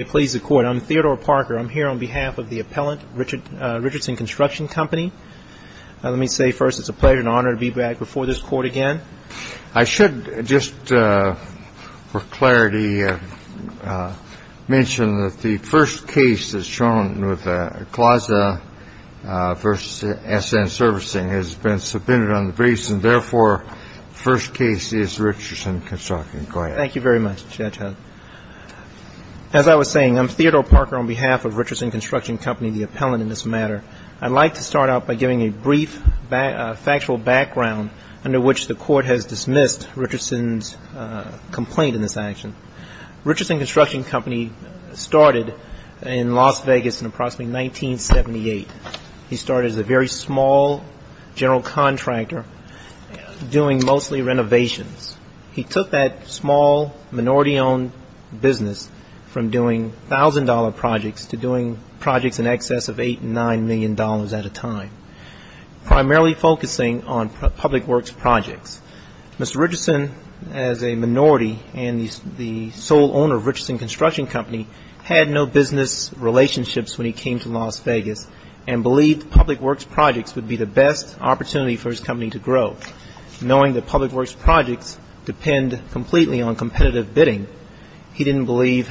I'm Theodore Parker. I'm here on behalf of the appellant, Richardson Construction Company. Let me say first it's a pleasure and honor to be back before this Court again. I should just for clarity mention that the first case that's shown with CLASA v. SN Servicing has been subpoenaed on the base, and therefore the first case is Richardson Construction. Go ahead. Thank you very much, Judge Hunt. As I was saying, I'm Theodore Parker on behalf of Richardson Construction Company, the appellant in this matter. I'd like to start out by giving a brief factual background under which the Court has dismissed Richardson's complaint in this action. Richardson Construction Company started in Las Vegas in approximately 1978. He started as a very small general contractor doing mostly renovations. He took that small minority-owned business from doing $1,000 projects to doing projects in excess of $8 million and $9 million at a time, primarily focusing on public works projects. Mr. Richardson, as a minority and the sole owner of Richardson Construction Company, had no business relationships when he came to Las Vegas and believed public works projects would be the best opportunity for his company to grow. Knowing that public works projects depend completely on competitive bidding, he didn't believe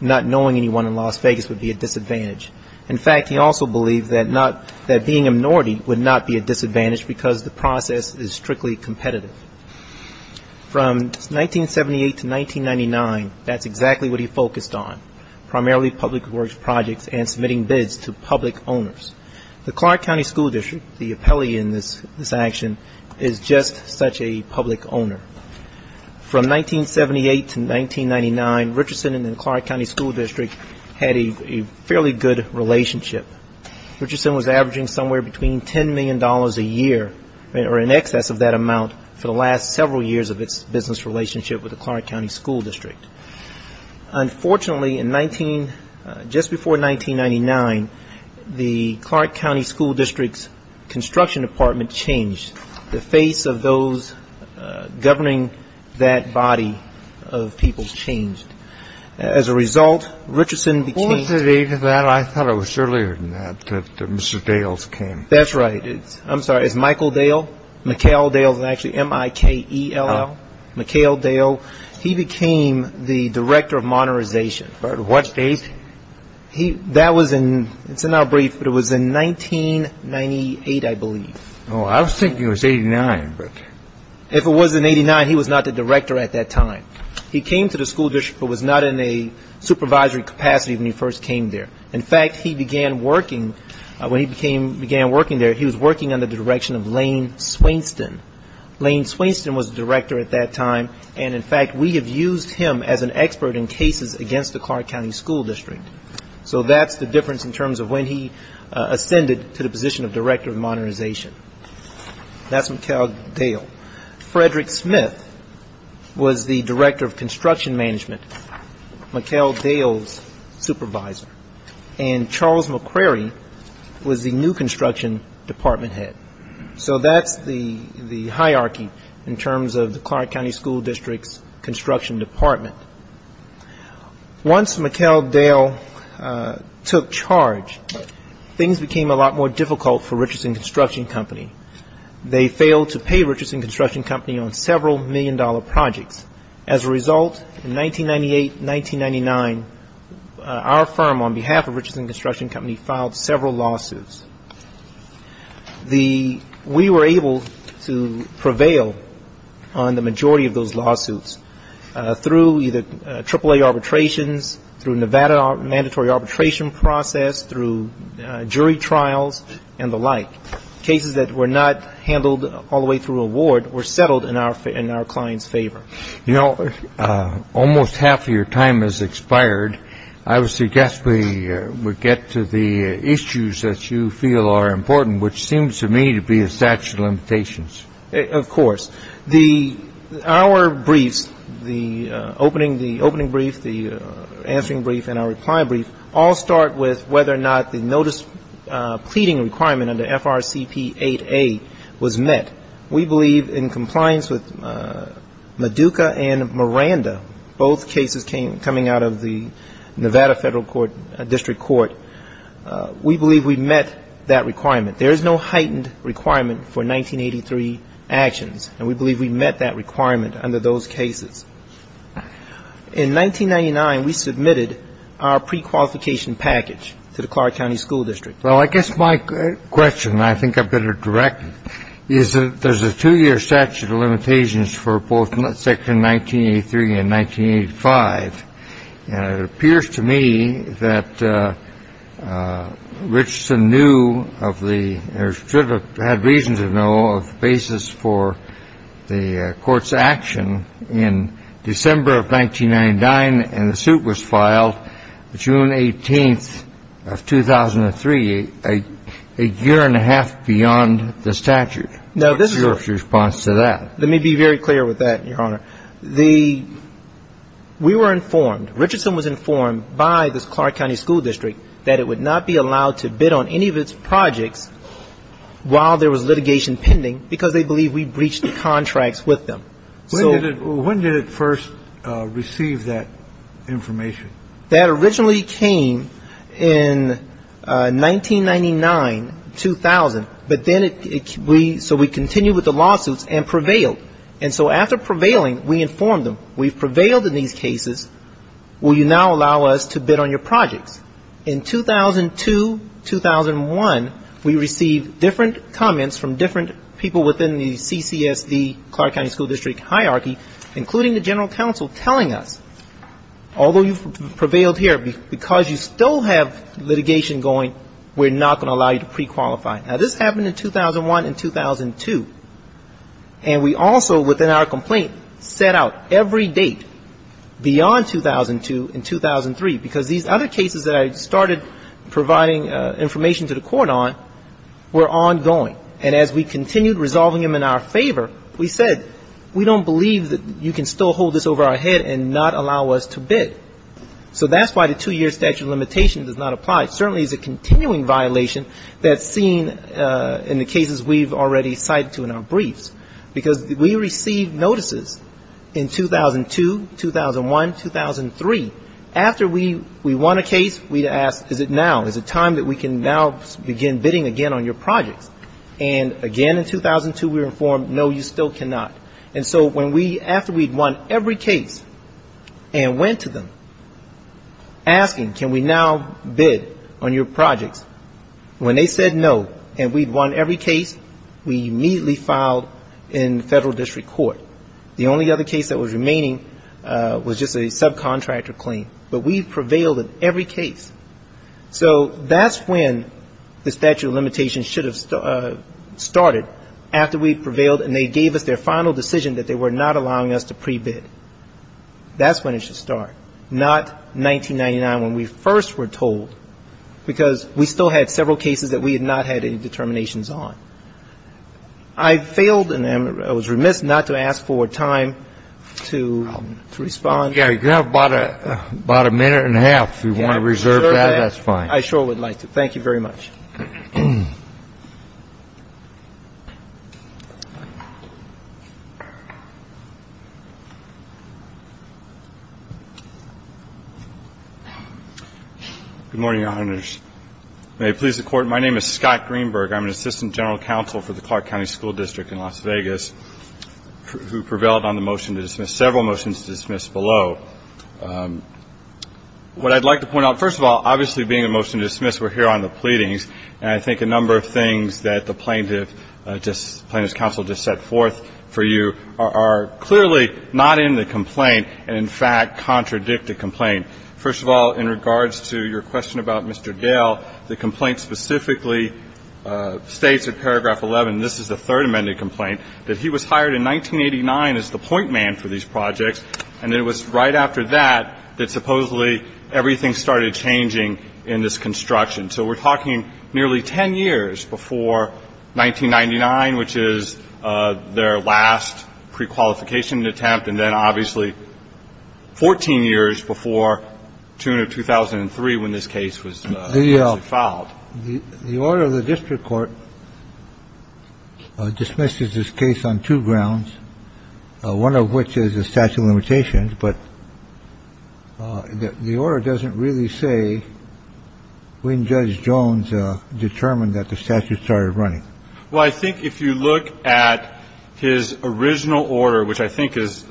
not knowing anyone in Las Vegas would be a disadvantage. In fact, he also believed that being a minority would not be a disadvantage because the process is strictly competitive. From 1978 to 1999, that's exactly what he focused on, primarily public works projects and submitting bids to public owners. The Clark County School District, the appellee in this action, is just such a public owner. From 1978 to 1999, Richardson and the Clark County School District had a fairly good relationship. Richardson was averaging somewhere between $10 million a year, or in excess of that amount, for the last several years of its business relationship with the Clark County School District. Unfortunately, just before 1999, the Clark County School District's construction department changed. The face of those governing that body of people changed. As a result, Richardson became – Before the date of that, I thought it was earlier than that, that Mr. Dales came. That's right. I'm sorry, it's Michael Dale. McHale Dale is actually M-I-K-E-L-L, McHale Dale. He became the director of modernization. On what date? That was in – it's not brief, but it was in 1998, I believe. Oh, I was thinking it was 89, but – If it was in 89, he was not the director at that time. He came to the school district but was not in a supervisory capacity when he first came there. In fact, he began working – when he began working there, he was working under the direction of Lane Swainston. Lane Swainston was the director at that time. And, in fact, we have used him as an expert in cases against the Clark County School District. So that's the difference in terms of when he ascended to the position of director of modernization. That's McHale Dale. Frederick Smith was the director of construction management, McHale Dale's supervisor. And Charles McCrary was the new construction department head. So that's the hierarchy in terms of the Clark County School District's construction department. Once McHale Dale took charge, things became a lot more difficult for Richardson Construction Company. They failed to pay Richardson Construction Company on several million-dollar projects. As a result, in 1998, 1999, our firm, on behalf of Richardson Construction Company, filed several lawsuits. We were able to prevail on the majority of those lawsuits through either AAA arbitrations, through Nevada mandatory arbitration process, through jury trials, and the like. Cases that were not handled all the way through a ward were settled in our client's favor. You know, almost half of your time has expired. I would suggest we get to the issues that you feel are important, which seems to me to be a statute of limitations. Of course. Our briefs, the opening brief, the answering brief, and our reply brief, all start with whether or not the notice pleading requirement under FRCP 8A was met. We believe in compliance with Meduca and Miranda, both cases coming out of the Nevada Federal District Court, we believe we met that requirement. There is no heightened requirement for 1983 actions, and we believe we met that requirement under those cases. In 1999, we submitted our prequalification package to the Clark County School District. Well, I guess my question, and I think I better direct it, is that there's a two-year statute of limitations for both Section 1983 and 1985. And it appears to me that Richson knew of the or should have had reason to know of the basis for the court's action in December of 1999. And the suit was filed June 18th of 2003, a year and a half beyond the statute. What's your response to that? Let me be very clear with that, Your Honor. The ‑‑ we were informed, Richardson was informed by the Clark County School District that it would not be allowed to bid on any of its projects while there was litigation pending because they believed we breached the contracts with them. When did it first receive that information? That originally came in 1999, 2000. But then it ‑‑ so we continued with the lawsuits and prevailed. And so after prevailing, we informed them, we've prevailed in these cases. Will you now allow us to bid on your projects? In 2002, 2001, we received different comments from different people within the CCSD, Clark County School District hierarchy, including the general counsel, telling us, although you've prevailed here, because you still have litigation going, we're not going to allow you to prequalify. Now, this happened in 2001 and 2002. And we also, within our complaint, set out every date beyond 2002 and 2003, because these other cases that I started providing information to the court on were ongoing. And as we continued resolving them in our favor, we said, we don't believe that you can still hold this over our head and not allow us to bid. So that's why the two‑year statute of limitations does not apply. It certainly is a continuing violation that's seen in the cases we've already cited to in our briefs. Because we received notices in 2002, 2001, 2003. After we won a case, we'd ask, is it now? Is it time that we can now begin bidding again on your projects? And again, in 2002, we were informed, no, you still cannot. And so when we, after we'd won every case and went to them asking, can we now bid on your projects? When they said no, and we'd won every case, we immediately filed in federal district court. The only other case that was remaining was just a subcontractor claim. But we prevailed in every case. So that's when the statute of limitations should have started, after we prevailed and they gave us their final decision that they were not allowing us to prebid. That's when it should start. Not 1999, when we first were told. Because we still had several cases that we had not had any determinations on. I failed, and I was remiss not to ask for time to respond. Yeah, you have about a minute and a half, if you want to reserve that, that's fine. I sure would like to. Thank you very much. Good morning, Your Honors. May it please the Court, my name is Scott Greenberg. I'm an assistant general counsel for the Clark County School District in Las Vegas, who prevailed on the motion to dismiss, several motions to dismiss below. What I'd like to point out, first of all, obviously being a motion to dismiss, we're here on the pleadings, and I think a number of things that the plaintiff, plaintiff's counsel just set forth for you, are clearly not in the complaint, and in fact contradict the complaint. First of all, in regards to your question about Mr. Dale, the complaint specifically states in paragraph 11, this is the third amended complaint, that he was hired in 1989 as the point man for these projects, and it was right after that that supposedly everything started changing in this construction. So we're talking nearly 10 years before 1999, which is their last prequalification attempt, and then obviously 14 years before June of 2003, when this case was actually filed. The order of the district court dismisses this case on two grounds, one of which is a statute of limitations, but the order doesn't really say when Judge Jones determined that the statute started running. Well, I think if you look at his original order, which I think is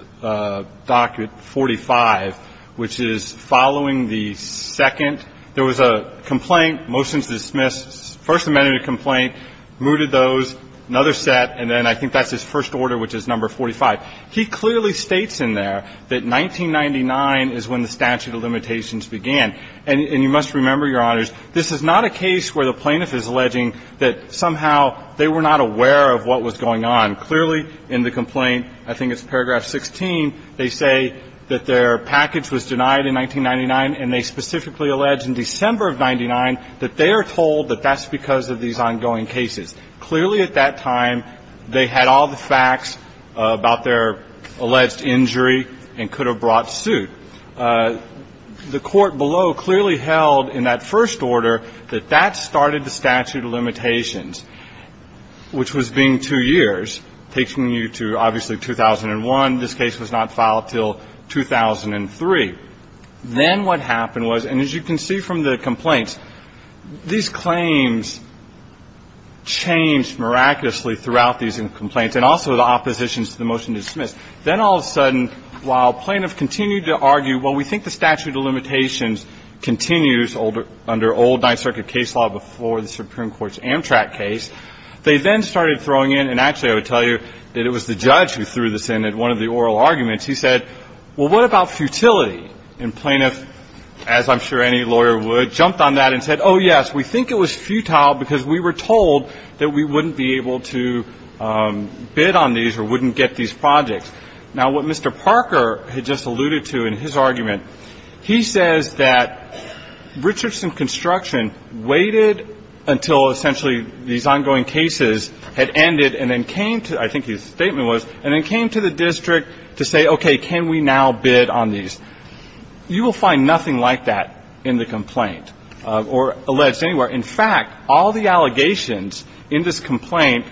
document 45, which is following the second. There was a complaint, motions to dismiss, first amended complaint, mooted those, another set, and then I think that's his first order, which is number 45. He clearly states in there that 1999 is when the statute of limitations began. And you must remember, Your Honors, this is not a case where the plaintiff is alleging that somehow they were not aware of what was going on. Clearly in the complaint, I think it's paragraph 16, they say that their package was denied in 1999, and they specifically allege in December of 99 that they are told that that's because of these ongoing cases. Clearly at that time, they had all the facts about their alleged injury and could have brought suit. The court below clearly held in that first order that that started the statute of limitations, which was being two years, taking you to obviously 2001. This case was not filed until 2003. Then what happened was, and as you can see from the complaints, these claims changed miraculously throughout these complaints and also the oppositions to the motion to dismiss. Then all of a sudden, while plaintiffs continued to argue, well, we think the statute of limitations continues under old Ninth Circuit case law before the Supreme Court's Amtrak case, they then started throwing in, and actually I would tell you that it was the judge who threw this in at one of the oral arguments. He said, well, what about futility? And plaintiff, as I'm sure any lawyer would, jumped on that and said, oh, yes, we think it was futile because we were told that we wouldn't be able to bid on these or wouldn't get these projects. Now, what Mr. Parker had just alluded to in his argument, he says that Richardson Construction waited until essentially these ongoing cases had ended and then came to, I think his statement was, and then came to the district to say, okay, can we now bid on these? You will find nothing like that in the complaint or alleged anywhere. In fact, all the allegations in this complaint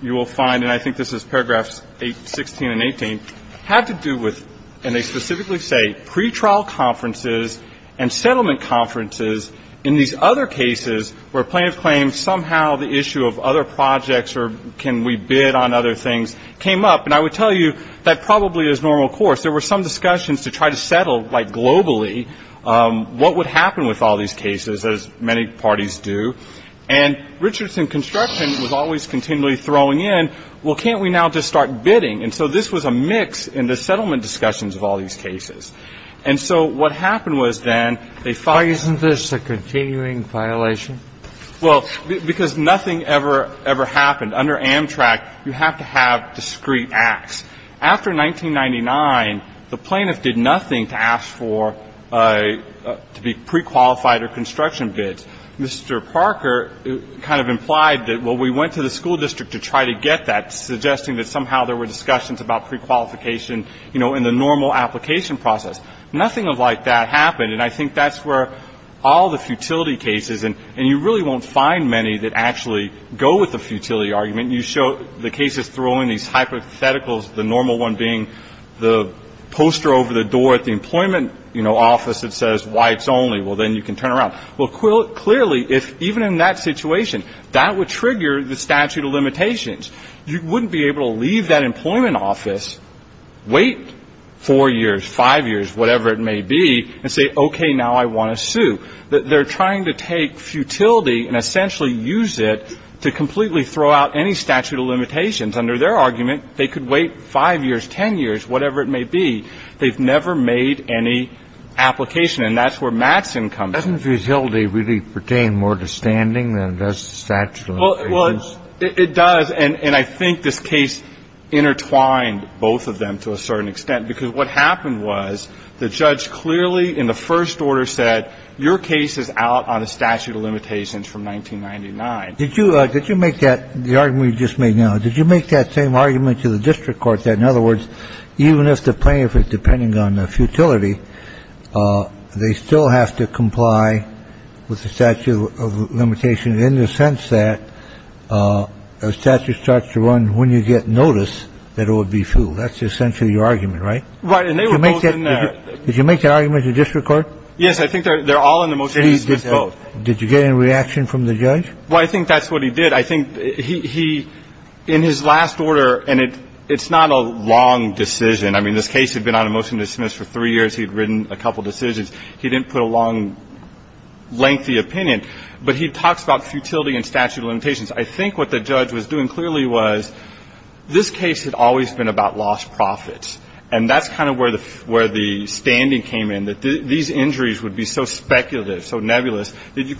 you will find, and I think this is paragraphs 16 and 18, have to do with, and they specifically say, pretrial conferences and settlement conferences in these other cases where plaintiff claims somehow the issue of other projects or can we bid on other things came up. And I would tell you that probably is normal course. There were some discussions to try to settle, like globally, what would happen with all these cases, as many parties do. And Richardson Construction was always continually throwing in, well, can't we now just start bidding? And so this was a mix in the settlement discussions of all these cases. And so what happened was then, they filed this. Why isn't this a continuing violation? Well, because nothing ever, ever happened. Under Amtrak, you have to have discrete acts. After 1999, the plaintiff did nothing to ask for to be prequalified or construction bids. Mr. Parker kind of implied that, well, we went to the school district to try to get that, suggesting that somehow there were discussions about prequalification, you know, in the normal application process. Nothing of like that happened. And I think that's where all the futility cases, and you really won't find many that actually go with the futility argument. You show the cases throwing these hypotheticals, the normal one being the poster over the door at the employment, you know, office that says whites only. Well, then you can turn around. Well, clearly, even in that situation, that would trigger the statute of limitations. You wouldn't be able to leave that employment office, wait four years, five years, whatever it may be, and say, okay, now I want to sue. They're trying to take futility and essentially use it to completely throw out any statute of limitations. Under their argument, they could wait five years, ten years, whatever it may be. They've never made any application. And that's where Matson comes in. Doesn't futility really pertain more to standing than it does to statute of limitations? Well, it does. And I think this case intertwined both of them to a certain extent. Because what happened was the judge clearly in the first order said, your case is out on a statute of limitations from 1999. Did you make that argument you just made now, did you make that same argument to the district court that, in other words, even if the plaintiff is depending on the futility, they still have to comply with the statute of limitations in the sense that a statute starts to run when you get notice that it would be fueled. That's essentially your argument, right? Right. And they were both in there. Did you make that argument to the district court? Yes. I think they're all in the motion to dismiss both. Did you get any reaction from the judge? Well, I think that's what he did. I think he, in his last order, and it's not a long decision. I mean, this case had been on a motion to dismiss for three years. He'd written a couple decisions. He didn't put a long, lengthy opinion. But he talks about futility and statute of limitations. I think what the judge was doing clearly was this case had always been about lost profits. And that's kind of where the standing came in, that these injuries would be so speculative, so nebulous, that you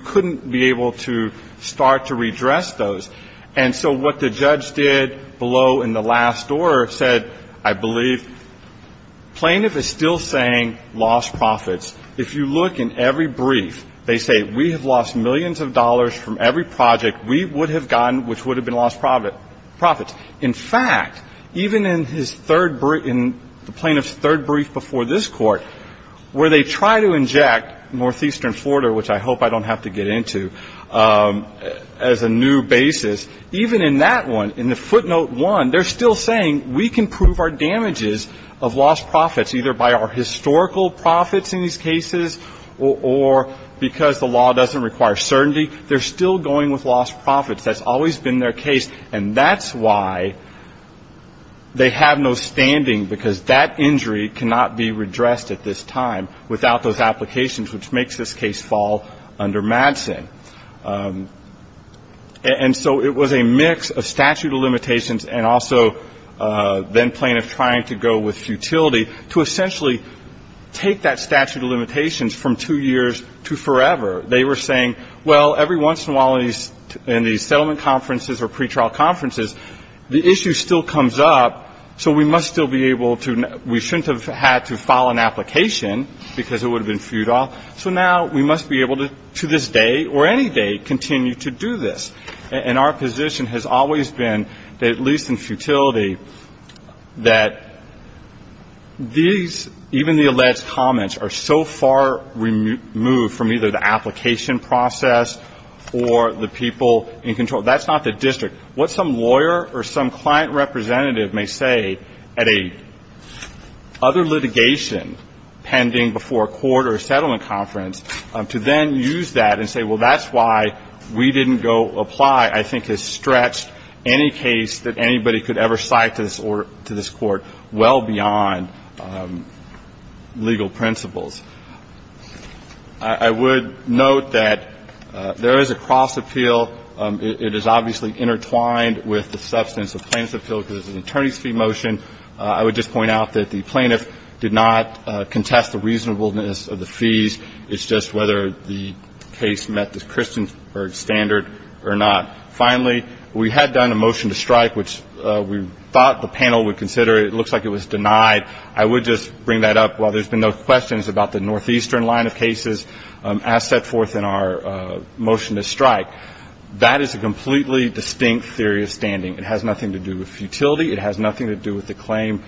couldn't be able to start to redress those. And so what the judge did below in the last order said, I believe, plaintiff is still saying lost profits. If you look in every brief, they say we have lost millions of dollars from every project we would have gotten, which would have been lost profits. In fact, even in his third brief, in the plaintiff's third brief before this court, where they try to inject northeastern Florida, which I hope I don't have to get into, as a new basis, even in that one, in the footnote one, they're still saying we can prove our damages of lost profits, either by our historical profits in these cases or because the law doesn't require certainty. They're still going with lost profits. That's always been their case. And that's why they have no standing, because that injury cannot be redressed at this time without those applications, which makes this case fall under Madsen. And so it was a mix of statute of limitations and also then plaintiff trying to go with futility to essentially take that statute of limitations from two years to forever. They were saying, well, every once in a while in these settlement conferences or pretrial conferences, the issue still comes up, so we must still be able to we shouldn't have had to file an application, because it would have been futile. So now we must be able to, to this day or any day, continue to do this. And our position has always been, at least in futility, that these, even the alleged comments, are so far removed from either the application process or the people in control. That's not the district. What some lawyer or some client representative may say at a other litigation pending before a court or a settlement conference to then use that and say, well, that's why we didn't go apply, I think, has stretched any case that anybody could ever cite to this court well beyond legal principles. I would note that there is a cross-appeal. It is obviously intertwined with the substance of plaintiff's appeal, because it's an attorney's fee motion. I would just point out that the plaintiff did not contest the reasonableness of the fees. It's just whether the case met the Christiansburg standard or not. Finally, we had done a motion to strike, which we thought the panel would consider. It looks like it was denied. I would just bring that up while there's been no questions about the northeastern line of cases, as set forth in our motion to strike. That is a completely distinct theory of standing. It has nothing to do with futility. It has nothing to do with the claim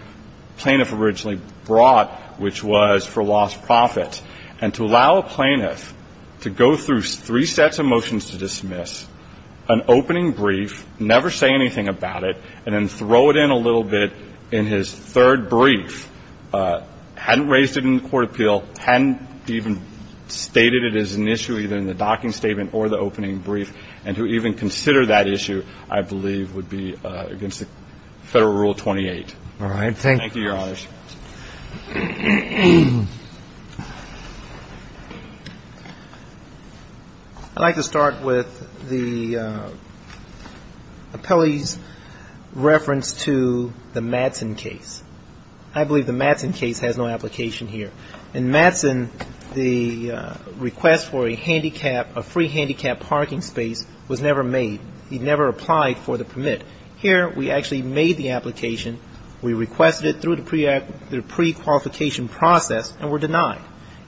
plaintiff originally brought, which was for lost profit. And to allow a plaintiff to go through three sets of motions to dismiss, an opening brief, never say anything about it, and then throw it in a little bit in his third brief, hadn't raised it in the court of appeal, hadn't even stated it as an issue either in the docking statement or the opening brief, and to even consider that issue, I believe would be against the Federal Rule 28. All right. Thank you, Your Honors. I'd like to start with the appellee's reference to the Madsen case. I believe the Madsen case has no application here. In Madsen, the request for a free handicap parking space was never made. It never applied for the permit. Here we actually made the application. We requested it through the prequalification process and were denied.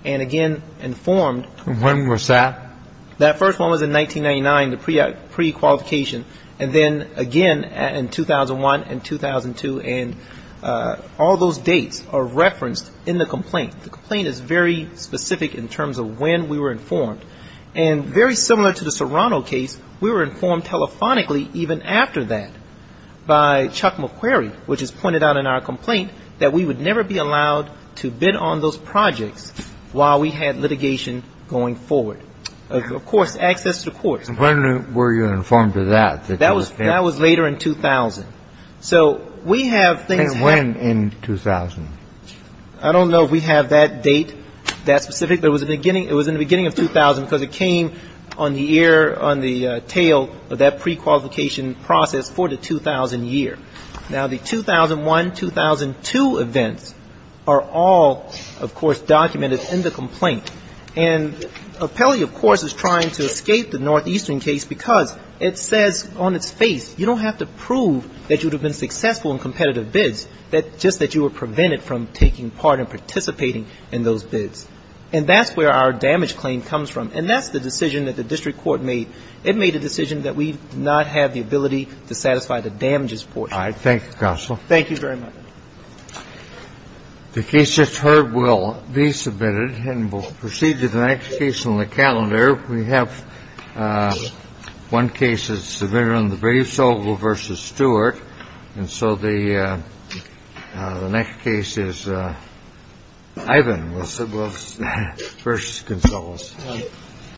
And again, informed. When was that? That first one was in 1999, the prequalification. And then, again, in 2001 and 2002, and all those dates are referenced in the complaint. The complaint is very specific in terms of when we were informed. And very similar to the Serrano case, we were informed telephonically even after that by Chuck McQuarrie, which is pointed out in our complaint, that we would never be allowed to bid on those projects while we had litigation going forward. Of course, access to courts. When were you informed of that? That was later in 2000. And when in 2000? I don't know if we have that date that specific. It was in the beginning of 2000 because it came on the ear, on the tail of that prequalification process for the 2000 year. Now, the 2001, 2002 events are all, of course, documented in the complaint. And Appellee, of course, is trying to escape the Northeastern case because it says on its face, you don't have to prove that you would have been successful in competitive bids, just that you were prevented from taking part and participating in those bids. And that's where our damage claim comes from. And that's the decision that the district court made. It made a decision that we do not have the ability to satisfy the damages portion. Thank you, Counsel. Thank you very much. The case that's heard will be submitted. And we'll proceed to the next case on the calendar. We have one case that's submitted on the Brave Sobel v. Stewart. And so the next case is Ivan with Sobel v. Gonzalez.